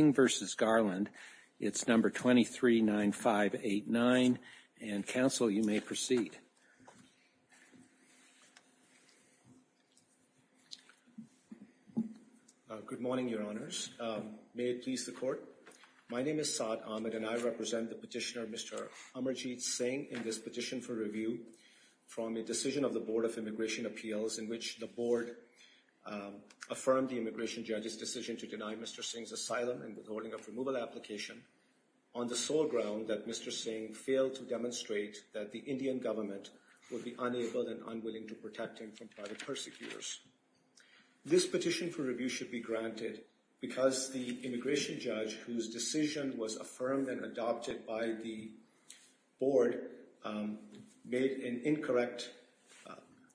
Singh v. Garland. It's number 239589. And, Counsel, you may proceed. Good morning, Your Honors. May it please the Court. My name is Saad Ahmed and I represent the petitioner Mr. Amarjeet Singh in this petition for review from a decision of the Board of Immigration Appeals in which the Board affirmed the immigration judge's decision to deny Mr. Singh's asylum and withholding of removal application on the sole ground that Mr. Singh failed to demonstrate that the Indian government would be unable and unwilling to protect him from private persecutors. This petition for review should be granted because the immigration judge, whose decision was affirmed and adopted by the Board, made an incorrect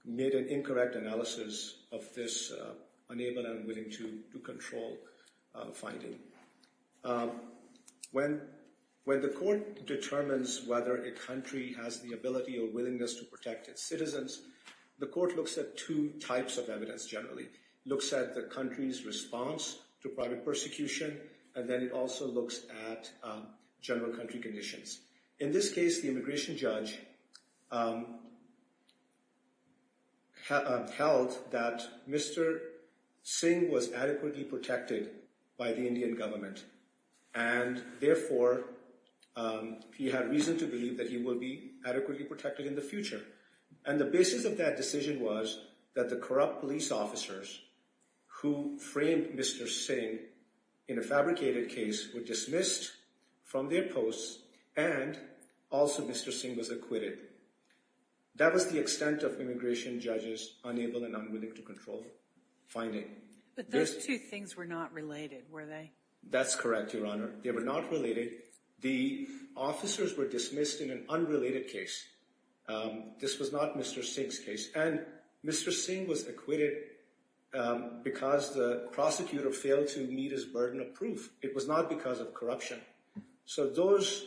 analysis of this unable and unwilling to control finding. When the Court determines whether a country has the ability or willingness to protect its citizens, the Court looks at two types of evidence generally. It looks at the country's response to private persecution and then it also looks at general country conditions. In this case, the immigration judge held that Mr. Singh was adequately protected by the Indian government and, therefore, he had reason to believe that he would be adequately protected in the future. And the basis of that decision was that the corrupt police officers who framed Mr. Singh in a Mr. Singh was acquitted. That was the extent of immigration judge's unable and unwilling to control finding. But those two things were not related, were they? That's correct, Your Honor. They were not related. The officers were dismissed in an unrelated case. This was not Mr. Singh's case. And Mr. Singh was acquitted because the prosecutor failed to meet his burden of proof. It was not because of corruption. So those,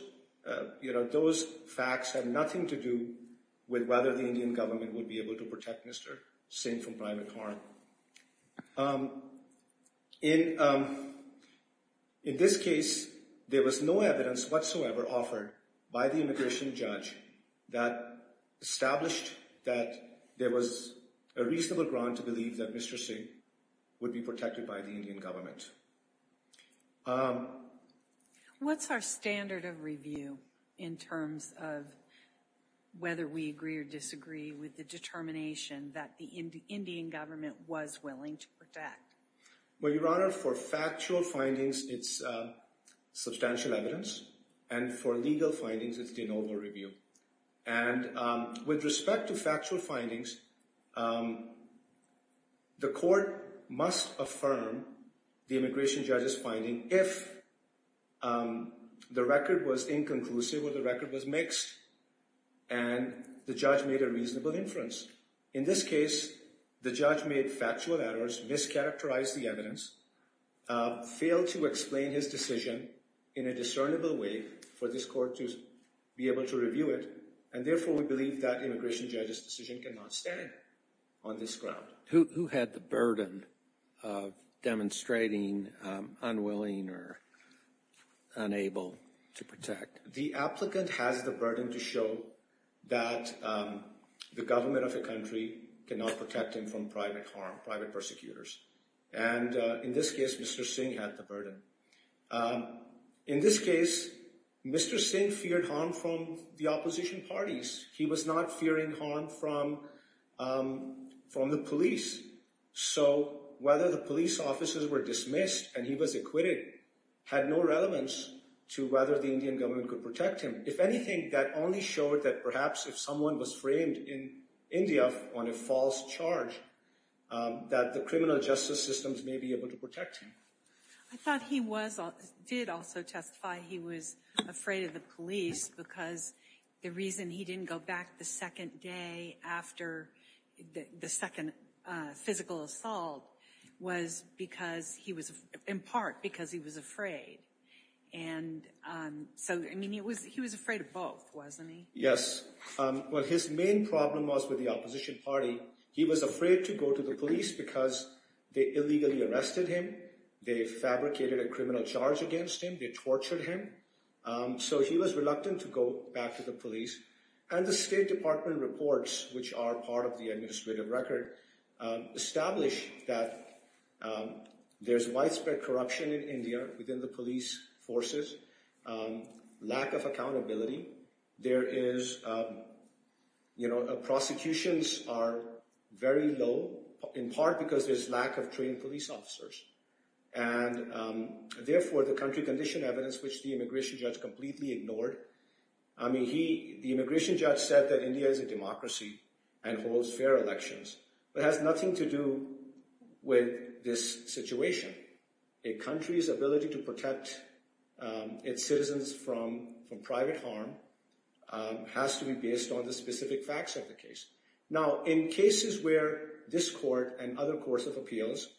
you know, those facts had nothing to do with whether the Indian government would be able to protect Mr. Singh from private harm. In this case, there was no evidence whatsoever offered by the immigration judge that established that there was a reasonable ground to believe that Mr. Singh would be adequately protected by the Indian government. What's our standard of review in terms of whether we agree or disagree with the determination that the Indian government was willing to protect? Well, Your Honor, for factual findings, it's substantial evidence. And for legal findings, it's de novo review. And with respect to factual findings, the court must affirm the immigration judge's finding if the record was inconclusive or the record was mixed and the judge made a reasonable inference. In this case, the judge made factual errors, mischaracterized the evidence, failed to explain his decision in a discernible way for this court to be able to review it. And therefore, we believe that immigration judge's decision cannot stand on this ground. Who had the burden of demonstrating unwilling or unable to protect? The applicant has the burden to show that the government of a country cannot protect him from private harm, private persecutors. And in this case, Mr. Singh had the burden. In this case, Mr. Singh feared harm from the opposition parties. He was not fearing harm from the police. So whether the police officers were dismissed and he was acquitted had no relevance to whether the Indian government could protect him. If anything, that only showed that perhaps if someone was framed in India on a false charge, that the criminal justice systems may be able to protect him. I thought he did also testify he was afraid of the police because the reason he didn't go back the second day after the second physical assault was because he was in part because he was afraid. And so, I mean, he was he was afraid of both, wasn't he? Yes. Well, his main problem was with the opposition party. He was afraid to go to the police because they illegally arrested him. They fabricated a criminal charge against him. They tortured him. So he was reluctant to go back to the police. And the State Department reports, which are part of the administrative record, establish that there's widespread corruption in India within the police forces, lack of accountability. There is, you know, prosecutions are very low, in part because there's lack of trained police officers. And therefore, the country condition evidence, which the immigration judge completely ignored. I mean, the immigration judge said that India is a democracy and holds fair elections, but has nothing to do with this situation. A country's ability to protect its citizens from private harm has to be based on the specific facts of the case. Now, in cases where this court and other courts of appeals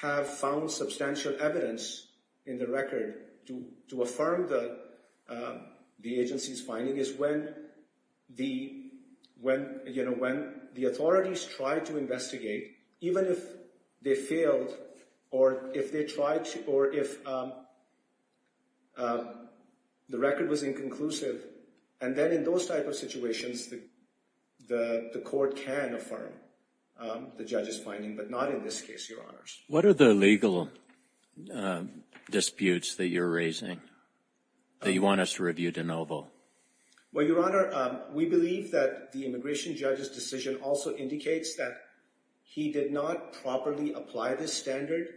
have found substantial evidence in the record to affirm the agency's finding is when the, you know, when the authorities try to investigate, even if they failed, or if they tried to, or if the record was inconclusive. And then in those type of situations, the court can affirm the judge's finding, but not in this case, Your Honors. What are the legal disputes that you're raising that you want us to review de novo? Well, Your Honor, we believe that the immigration judge's decision also indicates that he did not properly apply this standard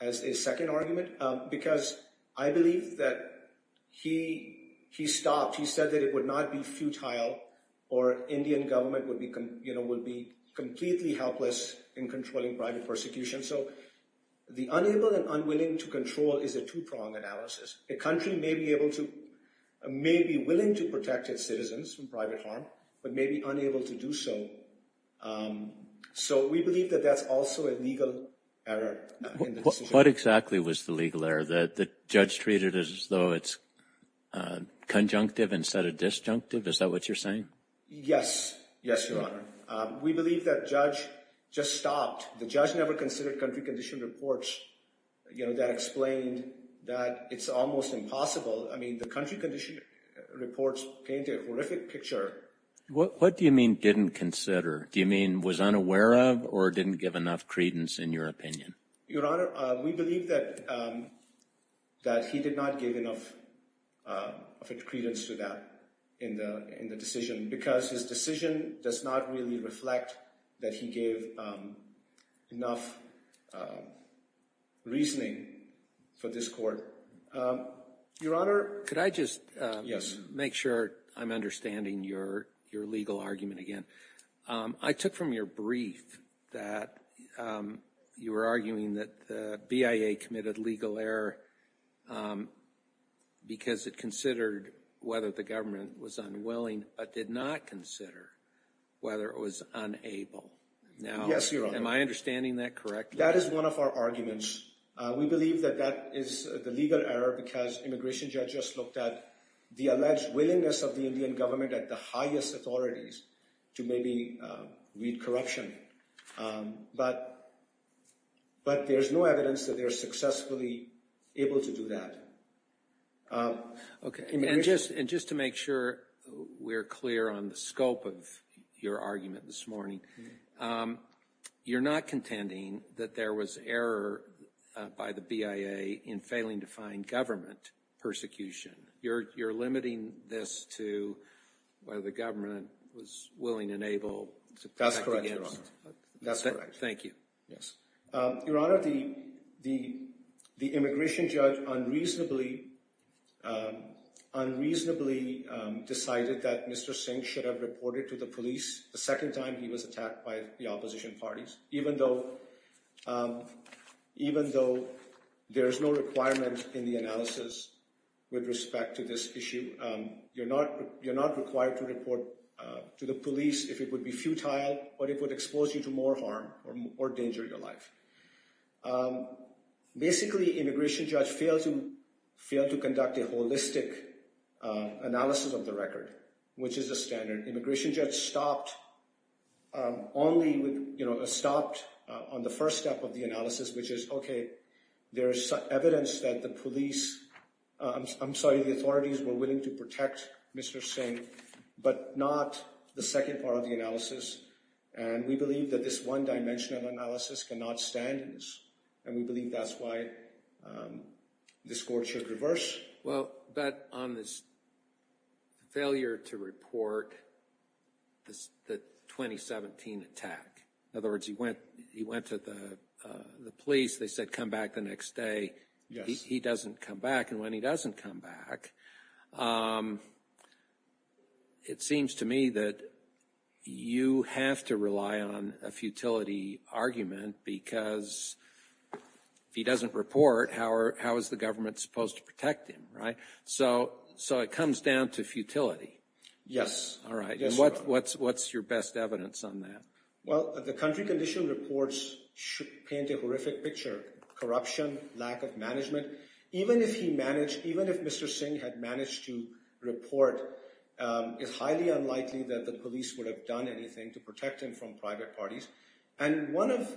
as a second argument, because I believe that he stopped. He said that it would not be futile, or Indian government would be, you know, would be completely helpless in controlling private persecution. So the unable and unwilling to control is a two-prong analysis. A country may be able to, may be willing to protect its citizens from private harm, but may be unable to do so. So we believe that that's also a legal error. What exactly was the legal error? That the judge treated as though it's conjunctive instead of disjunctive? Is that what you're saying? Yes, yes, Your Honor. We believe that judge just stopped. The judge never considered country condition reports, you know, that explained that it's almost impossible. I mean, the country condition reports paint a horrific picture. What do you mean didn't consider? Do you mean was unaware of, or didn't give enough credence in your opinion? Your Honor, we believe that that he did not give enough credence to that in the decision, because his decision does not really reflect that he gave enough reasoning for this court. Your Honor, could I just make sure I'm understanding your legal argument again? I took from your brief that you were arguing that the legal error, because it considered whether the government was unwilling, but did not consider whether it was unable. Now, am I understanding that correctly? That is one of our arguments. We believe that that is the legal error because immigration judges looked at the alleged willingness of the Indian government at the highest authorities to maybe read corruption. But there's no evidence that they're successfully able to do that. Okay, and just to make sure we're clear on the scope of your argument this morning, you're not contending that there was error by the BIA in failing to find government persecution. You're limiting this to whether the government was willing and able to protect the government. That's correct. Thank you. Your Honor, the immigration judge unreasonably decided that Mr. Singh should have reported to the police the second time he was attacked by the opposition parties, even though there's no requirement in the analysis with respect to this issue. You're not required to report to the police if it would be futile, but it would expose you to more harm or danger in your life. Basically, the immigration judge failed to conduct a holistic analysis of the record, which is the standard. The immigration judge stopped on the first step of the analysis, which is, okay, there is evidence that the authorities were willing to protect Mr. Singh, but not the second part of the analysis, and we believe that this one-dimensional analysis cannot stand in this, and we believe that's why this court should reverse. Well, but on this failure to report the 2017 attack, in other words, he went to the police, they said come back the next day, he doesn't come back, and when he doesn't come back, it seems to me that you have to rely on a futility argument because if he doesn't report, how is the government supposed to protect him, right? So it comes down to futility. Yes. All right. What's your best evidence on that? Well, the country condition reports should paint a horrific picture, corruption, lack of management. Even if he managed, even if Mr. Singh had managed to report, it's highly unlikely that the police would have done anything to protect him from private parties. And one of,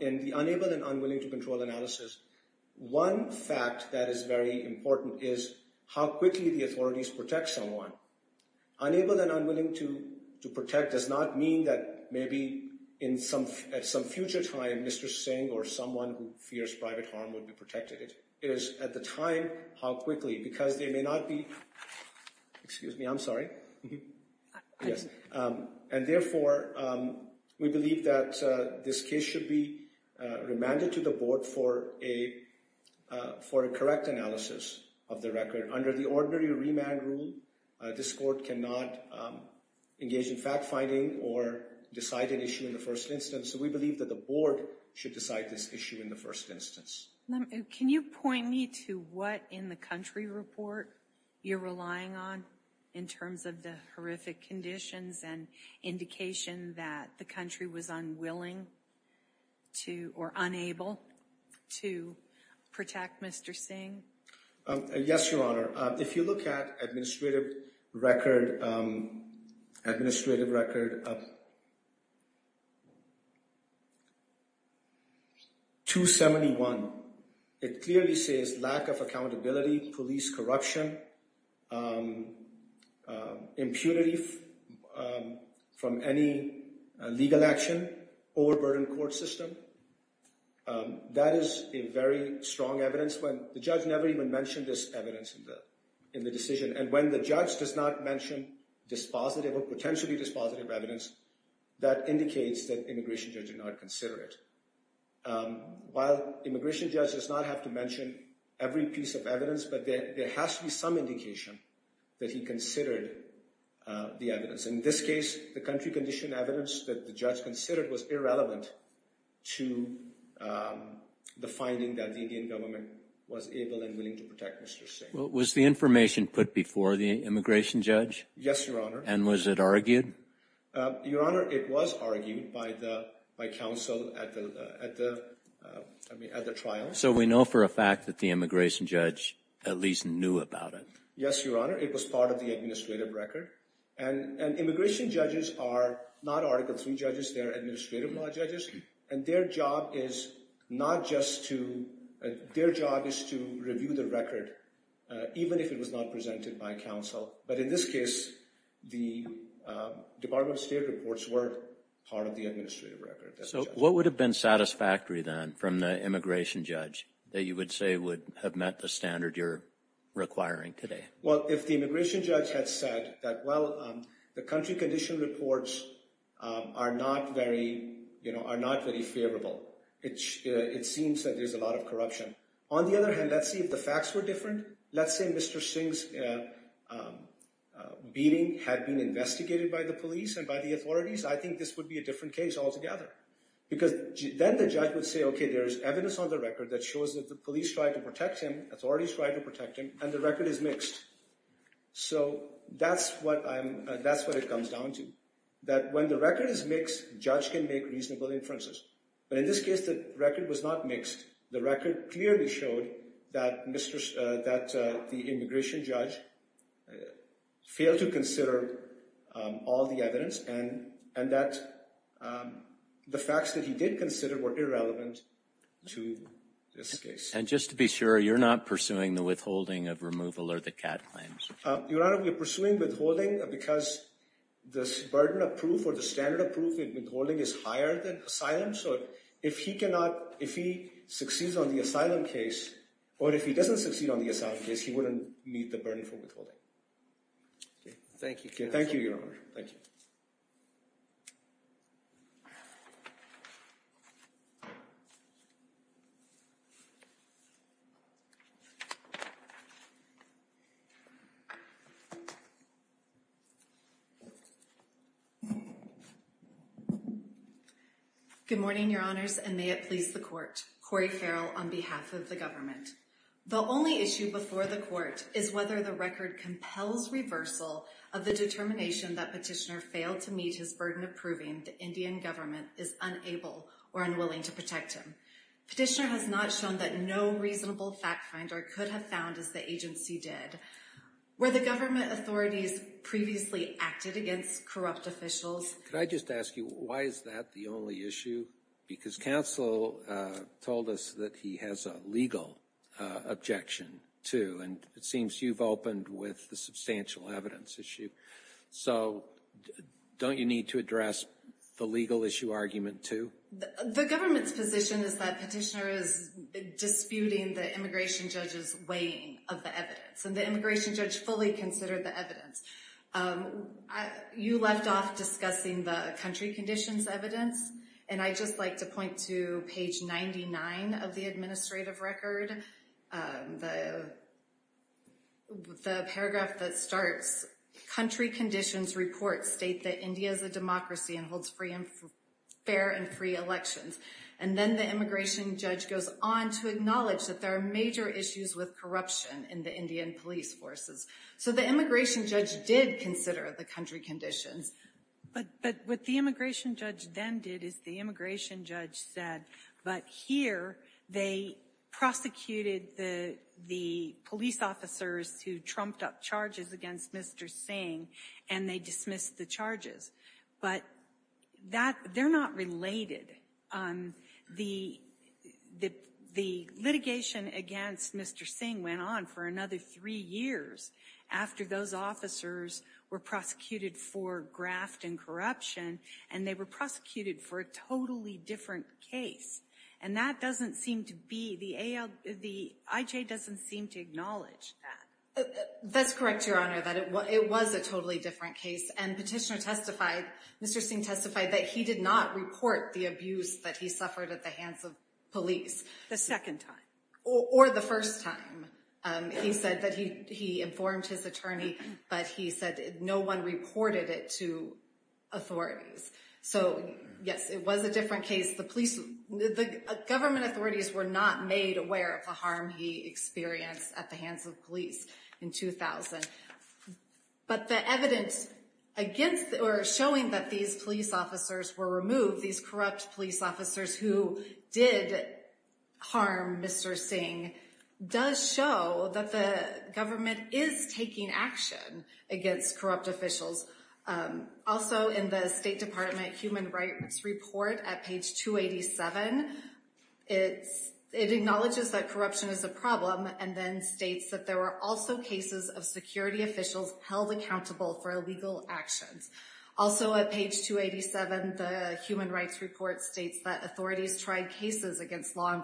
in the unable and unwilling to control analysis, one fact that is very important is how quickly the authorities protect someone. Unable and unwilling to protect does not mean that maybe at some future time, Mr. Singh or someone who fears private harm would be protected. It is at the time how quickly, because they may not be, excuse me, I'm sorry. Yes. And therefore, we believe that this case should be remanded to the board for a correct analysis of the record. Under the ordinary remand rule, this court cannot engage in fact-finding or decide an issue in the first instance. So we believe that the board should decide this issue in the first instance. Can you point me to what in the country report you're relying on in terms of the horrific conditions and indication that the country was unwilling to, or unable to protect Mr. Singh? Yes, Your Honor. If you look at administrative record, administrative record 271, it clearly says lack of accountability, police corruption, impunity from any legal action, overburdened court system. That is a very strong evidence. The judge never even mentioned this evidence in the decision. And when the judge does not mention dispositive or potentially dispositive evidence, that indicates that immigration judge did not consider it. While immigration judge does not have to mention every piece of evidence, but there has to be some indication that he considered the evidence. In this case, the country condition that the judge considered was irrelevant to the finding that the Indian government was able and willing to protect Mr. Singh. Was the information put before the immigration judge? Yes, Your Honor. And was it argued? Your Honor, it was argued by counsel at the trial. So we know for a fact that the immigration judge at least knew about it. Yes, Your Honor. It was part of the administrative record. And immigration judges are not article three judges, they're administrative law judges. And their job is not just to, their job is to review the record, even if it was not presented by counsel. But in this case, the Department of State reports were part of the administrative record. So what would have been satisfactory then from the immigration judge that you would say would have met the standard you're requiring today? Well, if the immigration judge had said that, well, the country condition reports are not very favorable, it seems that there's a lot of corruption. On the other hand, let's see if the facts were different. Let's say Mr. Singh's beating had been investigated by the police and by the authorities, I think this would be a different case altogether. Because then the judge would say, okay, there's evidence on the record that shows that the police tried to protect him, authorities tried to protect him, and the record is mixed. So that's what I'm, that's what it comes down to. That when the record is mixed, judge can make reasonable inferences. But in this case, the record was not mixed. The record clearly showed that the immigration judge failed to consider all the evidence and that the facts that he did consider were irrelevant to this case. And just to be sure, you're not pursuing the withholding of removal or the CAD claims? Your Honor, we're pursuing withholding because the burden of proof or the standard of proof in withholding is higher than asylum. So if he cannot, if he succeeds on the asylum case, or if he doesn't succeed on the asylum case, he wouldn't meet the burden for withholding. Okay, thank you. Thank you, Your Honor. Thank you. Good morning, Your Honors, and may it please the court. Cori Farrell on behalf of the government. The only issue before the court is whether the record compels reversal of the determination that petitioner failed to meet his burden of proving the Indian government is unable or unwilling to petitioner has not shown that no reasonable fact finder could have found as the agency did where the government authorities previously acted against corrupt officials. Could I just ask you why is that the only issue? Because counsel told us that he has a legal objection to and it seems you've opened with the substantial evidence issue. So don't you need to address the legal issue argument to the government's position is that petitioner is disputing the immigration judge's weighing of the evidence and the immigration judge fully considered the evidence. You left off discussing the country conditions evidence and I just like to point to page 99 of the administrative record. The paragraph that starts country conditions report state that India is a democracy and holds free and fair and free elections and then the immigration judge goes on to acknowledge that there are major issues with corruption in the Indian police forces. So the immigration judge did consider the country conditions but what the immigration judge then did is the immigration judge said but here they prosecuted the police officers who trumped up charges against Mr. Singh and they dismissed the charges but that they're not related. The litigation against Mr. Singh went on for another three years after those officers were prosecuted for graft and corruption and they were prosecuted for a different case and that doesn't seem to be the IJ doesn't seem to acknowledge that. That's correct your honor that it was a totally different case and petitioner testified Mr. Singh testified that he did not report the abuse that he suffered at the hands of police. The second time. Or the first time. He said that he informed his attorney but he said no one reported it to authorities. So yes it was a different case the police the government authorities were not made aware of the harm he experienced at the hands of police in 2000 but the evidence against or showing that these police officers were removed these corrupt police officers who did harm Mr. does show that the government is taking action against corrupt officials. Also in the state department human rights report at page 287 it acknowledges that corruption is a problem and then states that there were also cases of security officials held accountable for illegal actions. Also at page 287 the human rights report states that authorities tried cases against law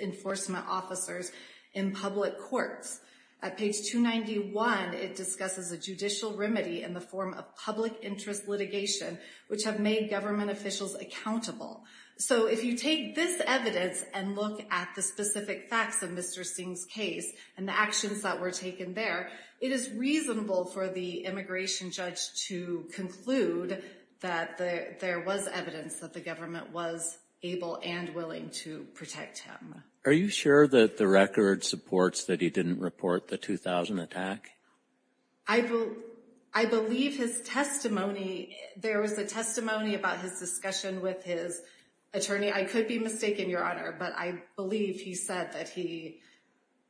enforcement officers in public courts. At page 291 it discusses a judicial remedy in the form of public interest litigation which have made government officials accountable. So if you take this evidence and look at the specific facts of Mr. Singh's case and the actions that were taken there it is reasonable for the immigration judge to conclude that there was evidence that the government was able and willing to protect him. Are you sure that the record supports that he didn't report the 2000 attack? I believe his testimony there was a testimony about his discussion with his attorney I could be mistaken your honor but I believe he said that he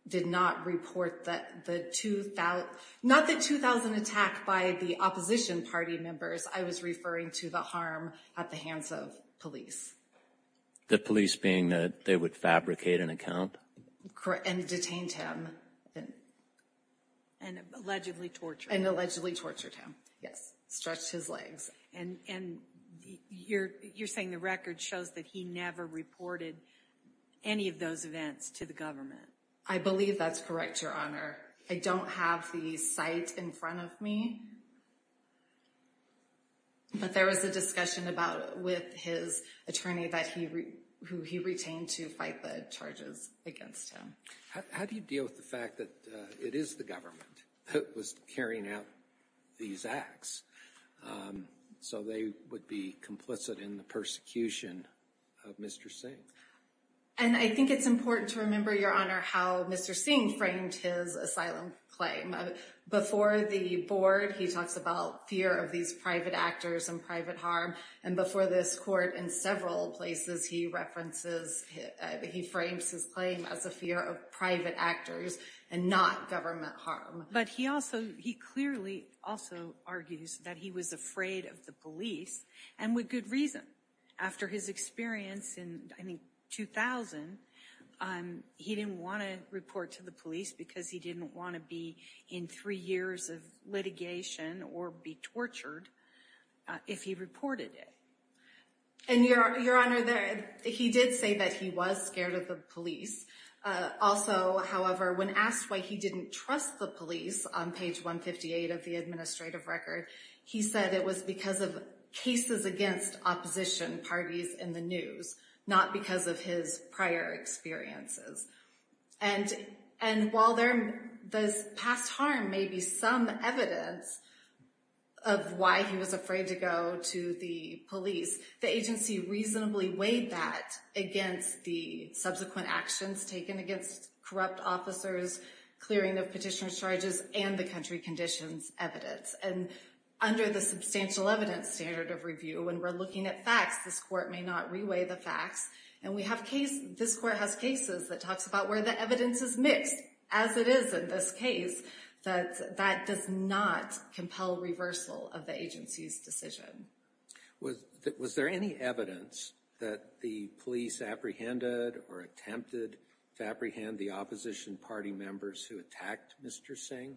did not report that the not the 2000 attack by the opposition party members I was referring to the harm at the hands of police. The police being that they would fabricate an account? Correct and detained him and allegedly tortured and allegedly tortured him yes stretched his legs and and you're you're saying the record shows that he never reported any of those events to the government? I believe that's correct your honor I don't have the site in front of me but there was a discussion about with his attorney that he who he retained to fight the charges against him. How do you deal with the fact that it is the government that was carrying out these acts so they would be complicit in the execution of Mr. Singh? And I think it's important to remember your honor how Mr. Singh framed his asylum claim before the board he talks about fear of these private actors and private harm and before this court in several places he references he frames his claim as a fear of private actors and not government harm. But he also he clearly also argues that he was afraid of the police and with good reason after his experience in I think 2000 he didn't want to report to the police because he didn't want to be in three years of litigation or be tortured if he reported it. And your your honor there he did say that he was scared of the police also however when asked why he didn't trust the police on page 158 of the administrative record he said it was because of cases against opposition parties in the news not because of his prior experiences. And and while there this past harm may be some evidence of why he was afraid to go to the police the agency reasonably weighed that against the subsequent actions taken against corrupt officers clearing of petitioner charges and the country conditions evidence. And under the substantial evidence standard of review when we're looking at facts this court may not reweigh the facts and we have case this court has cases that talks about where the evidence is mixed as it is in this case that that does not compel reversal of the agency's decision. Was was there any evidence that the police apprehended or attempted to apprehend the opposition party members who attacked Mr. Singh?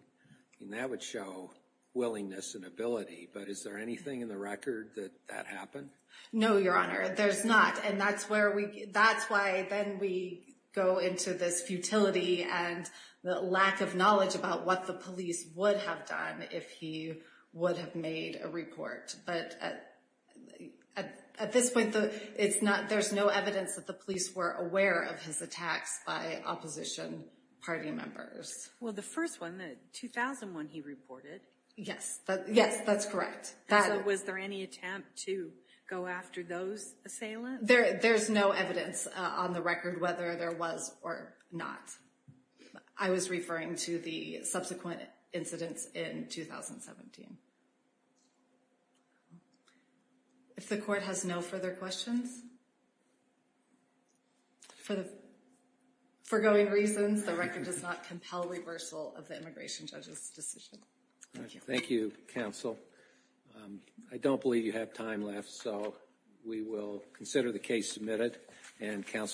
I mean that would show willingness and ability but is there anything in the record that that happened? No your honor there's not and that's where we that's why then we go into this futility and the lack of knowledge about what the police would have done if he would have made a report but at at this point it's not there's no evidence that the police were aware of his attacks by opposition party members. Well the first one the 2001 he reported. Yes that yes that's correct. Was there any attempt to go after those assailants? There there's no evidence on the record whether there was or not. I was referring to the subsequent incidents in 2017. If the court has no further questions for the foregoing reasons the record does not compel reversal of the immigration judge's decision. Thank you counsel. I don't believe you have time left so we will consider the case submitted and counsel.